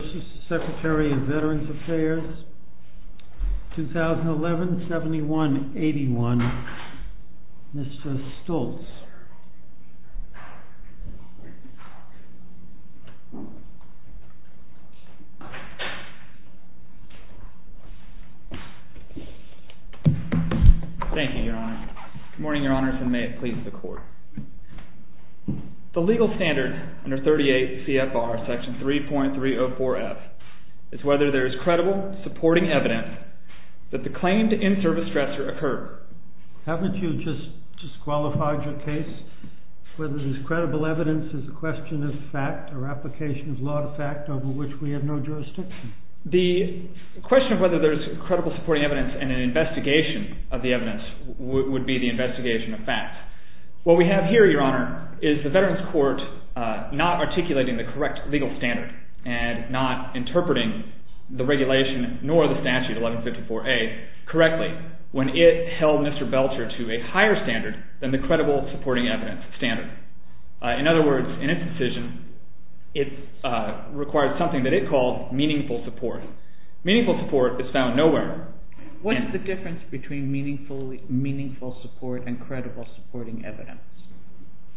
v. SECRETARY OF VETERANS' AFFAIRS, 2011-71-81, Mr. Stoltz. Thank you, Your Honor. Good morning, Your Honors, and may it please the Court. The legal standard under 38 CFR Section 3.304F is whether there is credible supporting evidence that the claim to in-service stressor occurred. Haven't you just disqualified your case? Whether there is credible evidence is a question of fact or application of law to fact over which we have no jurisdiction. The question of whether there is credible supporting evidence and an investigation of the evidence would be the investigation of fact. What we have here, Your Honor, is the Veterans Court not articulating the correct legal standard and not interpreting the regulation nor the statute, 1154A, correctly when it held Mr. Belcher to a higher standard than the credible supporting evidence standard. In other words, in its decision, it required something that it called meaningful support. Meaningful support is found nowhere. What is the difference between meaningful support and credible supporting evidence?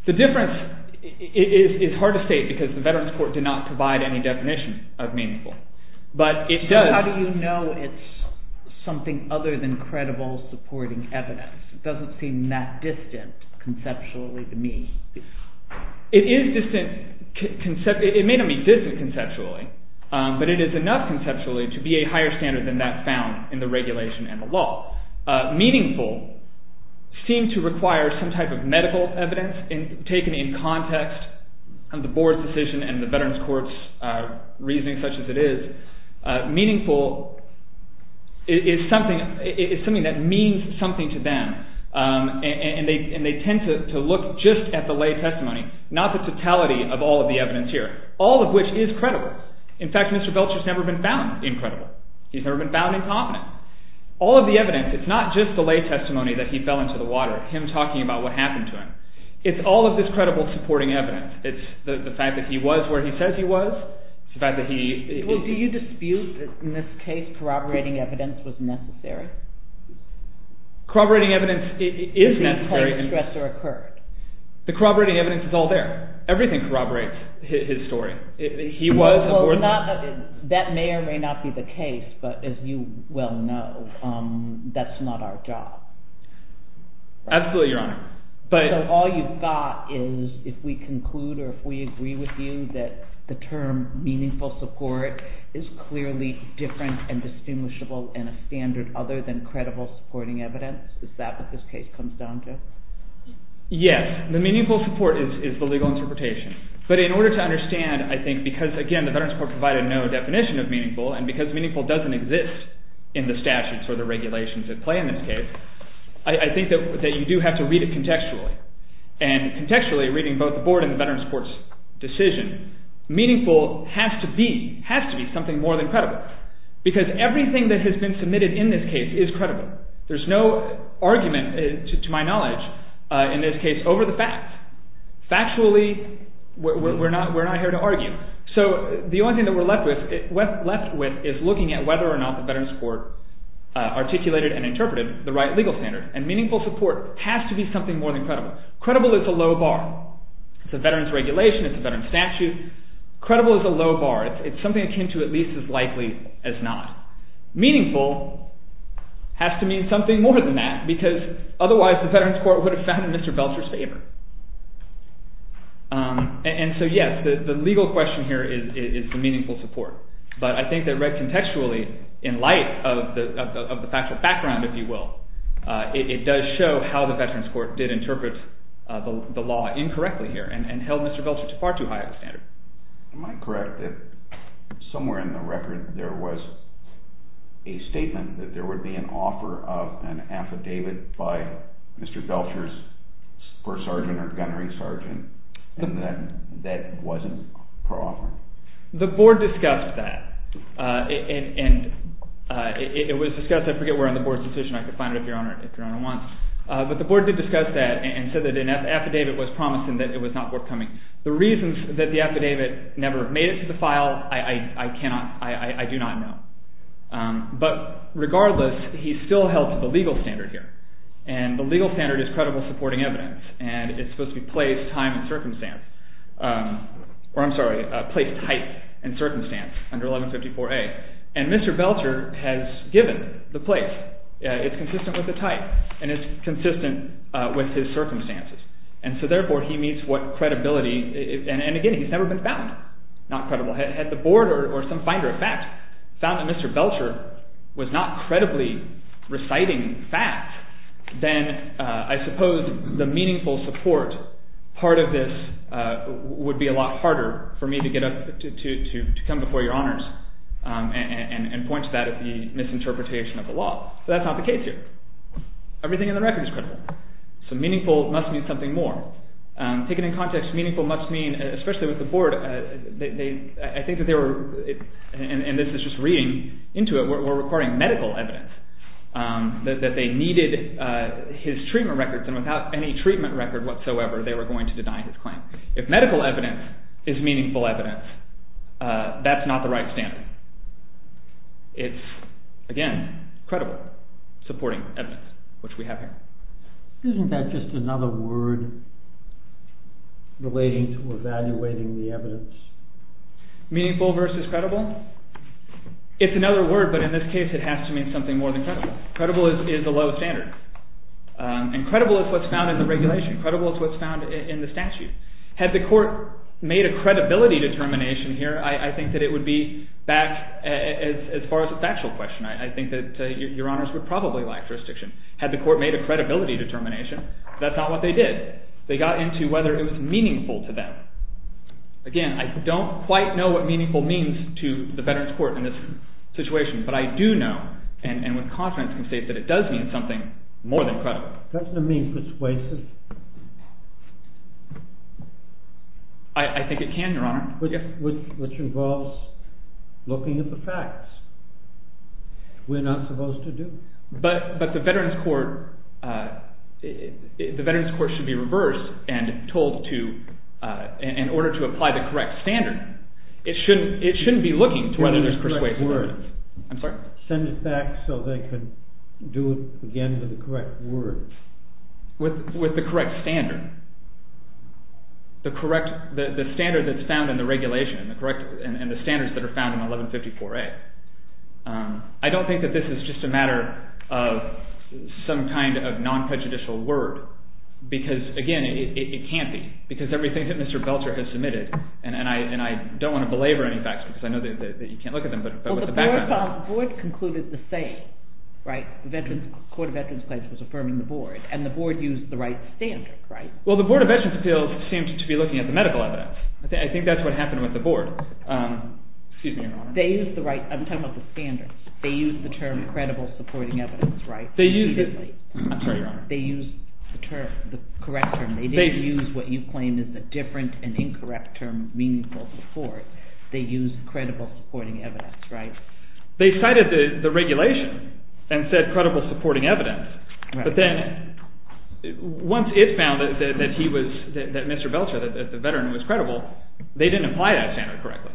The difference is hard to state because the Veterans Court did not provide any definition of meaningful. How do you know it is something other than credible supporting evidence? It doesn't seem that distant conceptually to me. It is distant conceptually. It may not be distant conceptually, but it is enough conceptually to be a higher standard than that found in the regulation and the law. Meaningful seemed to require some type of medical evidence taken in context of the Board's decision and the Veterans Court's reasoning such as it is. Meaningful is something that means something to them, and they tend to look just at the lay testimony, not the totality of all of the evidence here, all of which is credible. In fact, Mr. Belcher has never been found incredible. He has never been found incompetent. All of the evidence, it is not just the lay testimony that he fell into the water, him talking about what happened to him. It is all of this credible supporting evidence. It is the fact that he was where he says he was. Well, do you dispute that in this case corroborating evidence was necessary? Corroborating evidence is necessary. Was he placed, stressed, or occurred? The corroborating evidence is all there. Everything corroborates his story. He was aborted. That may or may not be the case, but as you well know, that is not our job. Absolutely, Your Honor. So all you've got is if we conclude or if we agree with you that the term meaningful support is clearly different and distinguishable and a standard other than credible supporting evidence. Is that what this case comes down to? Yes. The meaningful support is the legal interpretation. But in order to understand, I think, because, again, the veteran's court provided no definition of meaningful, and because meaningful doesn't exist in the statutes or the regulations at play in this case, I think that you do have to read it contextually. And contextually, reading both the board and the veteran's court's decision, meaningful has to be something more than credible. Because everything that has been submitted in this case is credible. There is no argument, to my knowledge, in this case, over the fact. Factually, we're not here to argue. So the only thing that we're left with is looking at whether or not the veteran's court articulated and interpreted the right legal standard. And meaningful support has to be something more than credible. Credible is a low bar. It's a veteran's regulation. It's a veteran's statute. Credible is a low bar. It's something akin to at least as likely as not. Meaningful has to mean something more than that, because otherwise the veteran's court would have found it in Mr. Belcher's favor. And so, yes, the legal question here is the meaningful support. But I think that read contextually in light of the factual background, if you will, it does show how the veteran's court did interpret the law incorrectly here and held Mr. Belcher to far too high of a standard. Am I correct that somewhere in the record there was a statement that there would be an offer of an affidavit by Mr. Belcher's court sergeant or gunnery sergeant and that that wasn't per offer? The board discussed that. And it was discussed – I forget where on the board's decision. I could find it if Your Honor wants. But the board did discuss that and said that an affidavit was promised and that it was not forthcoming. The reasons that the affidavit never made it to the file I cannot – I do not know. But regardless, he still held to the legal standard here. And the legal standard is credible supporting evidence, and it's supposed to be placed time and circumstance – or I'm sorry, placed type and circumstance under 1154A. And Mr. Belcher has given the place. It's consistent with the type, and it's consistent with his circumstances. And so therefore, he meets what credibility – and again, he's never been found not credible. Had the board or some finder of fact found that Mr. Belcher was not credibly reciting fact, then I suppose the meaningful support part of this would be a lot harder for me to get up to come before Your Honors and point to that as the misinterpretation of the law. So that's not the case here. Everything in the record is credible. So meaningful must mean something more. Taken in context, meaningful must mean – especially with the board, I think that they were – and this is just reading into it – were requiring medical evidence that they needed his treatment records, and without any treatment record whatsoever they were going to deny his claim. If medical evidence is meaningful evidence, that's not the right standard. It's, again, credible supporting evidence, which we have here. Isn't that just another word relating to evaluating the evidence? Meaningful versus credible? It's another word, but in this case it has to mean something more than credible. Credible is a low standard, and credible is what's found in the regulation. Credible is what's found in the statute. Had the court made a credibility determination here, I think that it would be back – as far as a factual question, I think that Your Honors would probably lack jurisdiction. Had the court made a credibility determination, that's not what they did. They got into whether it was meaningful to them. Again, I don't quite know what meaningful means to the Veterans Court in this situation, but I do know, and with confidence can state that it does mean something more than credible. Doesn't it mean persuasive? I think it can, Your Honor. Which involves looking at the facts. We're not supposed to do that. But the Veterans Court should be reversed and told to, in order to apply the correct standard, it shouldn't be looking to whether there's persuasive evidence. I'm sorry? Send it back so they can do it again with the correct words. With the correct standard. The standard that's found in the regulation, and the standards that are found in 1154A. I don't think that this is just a matter of some kind of non-prejudicial word, because again, it can't be, because everything that Mr. Belcher has submitted, and I don't want to belabor any facts because I know that you can't look at them, but with the background. Well, the board concluded the same, right? The Veterans Court of Veterans Claims was affirming the board, and the board used the right standard, right? Well, the Board of Veterans Appeals seemed to be looking at the medical evidence. I think that's what happened with the board. Excuse me, Your Honor. They used the right – I'm talking about the standards. They used the term credible supporting evidence, right? They used the – I'm sorry, Your Honor. They used the term, the correct term. They didn't use what you claim is a different and incorrect term, meaningful support. They used credible supporting evidence, right? They cited the regulation and said credible supporting evidence. But then once it found that he was – that Mr. Belcher, the veteran, was credible, they didn't apply that standard correctly.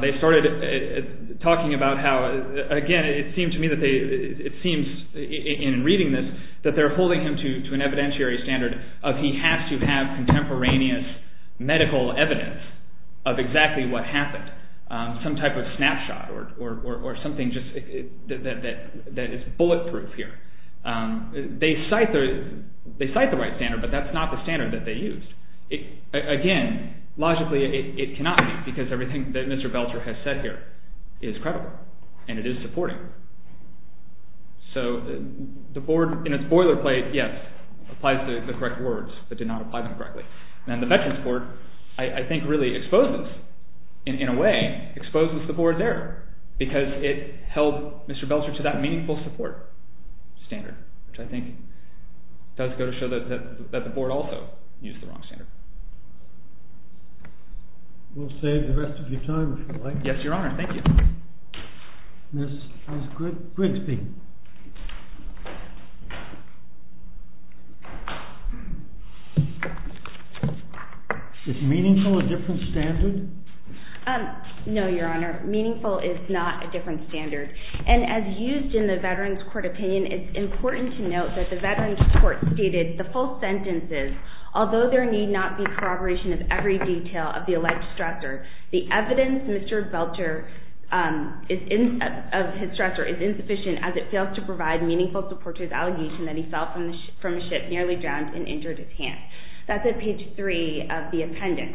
They started talking about how – again, it seems to me that they – it seems in reading this that they're holding him to an evidentiary standard of he has to have contemporaneous medical evidence of exactly what happened, some type of snapshot or something just that is bulletproof here. They cite the right standard, but that's not the standard that they used. Again, logically it cannot be because everything that Mr. Belcher has said here is credible, and it is supporting. So the board in its boilerplate, yes, applies the correct words, but did not apply them correctly. And the veterans' board, I think, really exposes, in a way, exposes the board there because it held Mr. Belcher to that meaningful support standard, which I think does go to show that the board also used the wrong standard. We'll save the rest of your time if you like. Yes, Your Honor. Thank you. Ms. Grigsby. Is meaningful a different standard? No, Your Honor. Meaningful is not a different standard. And as used in the veterans' court opinion, it's important to note that the veterans' court stated the full sentence is, although there need not be corroboration of every detail of the alleged stressor, the evidence, Mr. Belcher, of his stressor is insufficient as it fails to provide meaningful support to his allegation that he fell from a ship, nearly drowned, and injured his hand. That's at page 3 of the appendix.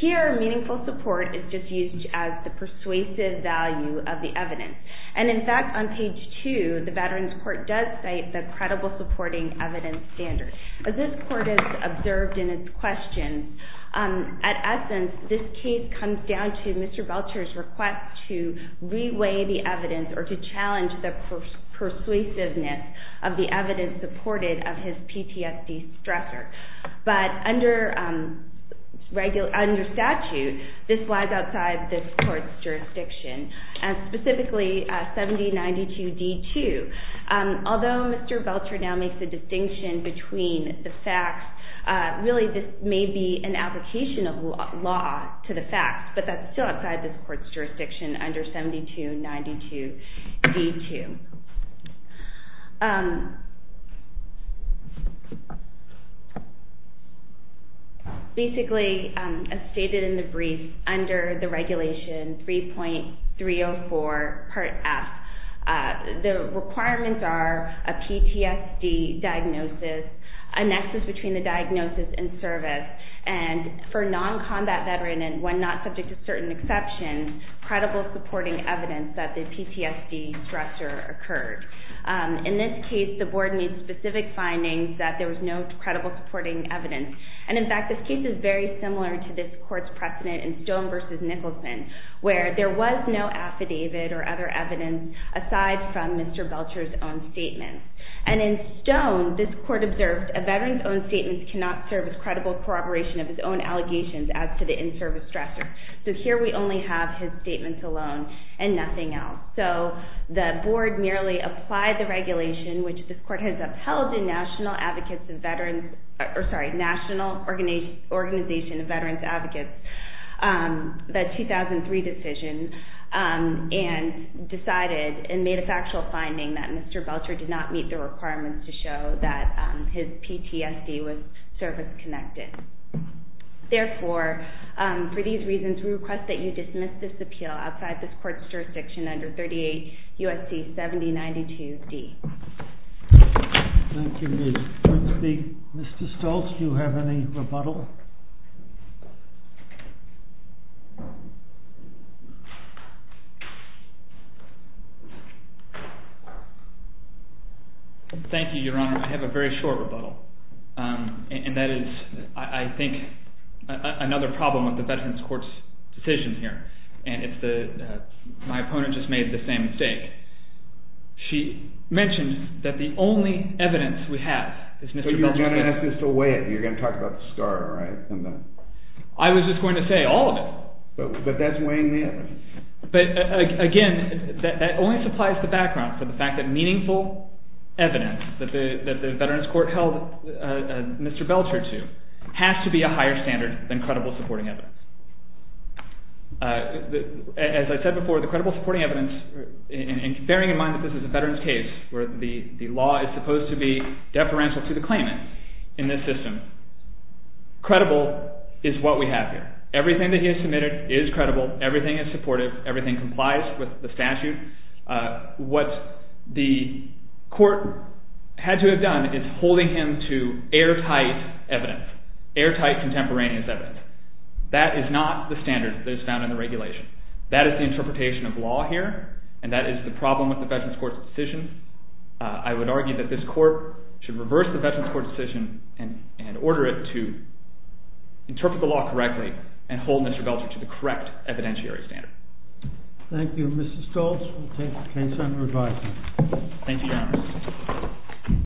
Here, meaningful support is just used as the persuasive value of the evidence. And in fact, on page 2, the veterans' court does cite the credible supporting evidence standard. As this court has observed in its questions, at essence, this case comes down to Mr. Belcher's request to reweigh the evidence or to challenge the persuasiveness of the evidence supported of his PTSD stressor. But under statute, this lies outside this court's jurisdiction, and specifically 7092D2. Although Mr. Belcher now makes a distinction between the facts, really this may be an application of law to the facts, but that's still outside this court's jurisdiction under 70292D2. Basically, as stated in the brief, under the regulation 3.304 Part F, the requirements are a PTSD diagnosis, a nexus between the diagnosis and service, and for a non-combat veteran and one not subject to certain exceptions, credible supporting evidence that the PTSD stressor occurred. In this case, the board needs specific findings that there was no credible supporting evidence. And in fact, this case is very similar to this court's precedent in Stone v. Nicholson, where there was no affidavit or other evidence aside from Mr. Belcher's own statement. And in Stone, this court observed, a veteran's own statement cannot serve as credible corroboration of his own allegations as to the in-service stressor. So here we only have his statements alone and nothing else. So the board merely applied the regulation, which this court has upheld in National Organization of Veterans Advocates, the 2003 decision, and decided and made a factual finding that Mr. Belcher did not meet the requirements to show that his PTSD was service-connected. Therefore, for these reasons, we request that you dismiss this appeal outside this court's jurisdiction under 38 U.S.C. 7092D. Thank you, Liz. Mr. Stoltz, do you have any rebuttal? Thank you, Your Honor. I have a very short rebuttal, and that is, I think, another problem with the Veterans Court's decision here. My opponent just made the same mistake. She mentioned that the only evidence we have is Mr. Belcher's statement. You're going to ask us to weigh it. You're going to talk about the SCAR, right? I was just going to say all of it. But that's weighing the evidence. But, again, that only supplies the background for the fact that meaningful evidence that the Veterans Court held Mr. Belcher to has to be a higher standard than credible supporting evidence. As I said before, the credible supporting evidence, bearing in mind that this is a veterans case where the law is supposed to be deferential to the claimant in this system, credible is what we have here. Everything that he has submitted is credible. Everything is supportive. Everything complies with the statute. What the court had to have done is holding him to airtight evidence, airtight contemporaneous evidence. That is not the standard that is found in the regulation. That is the interpretation of law here, and that is the problem with the Veterans Court's decision. I would argue that this court should reverse the Veterans Court's decision and order it to interpret the law correctly and hold Mr. Belcher to the correct evidentiary standard. Thank you, Mr. Stoltz. Thank you, Your Honor.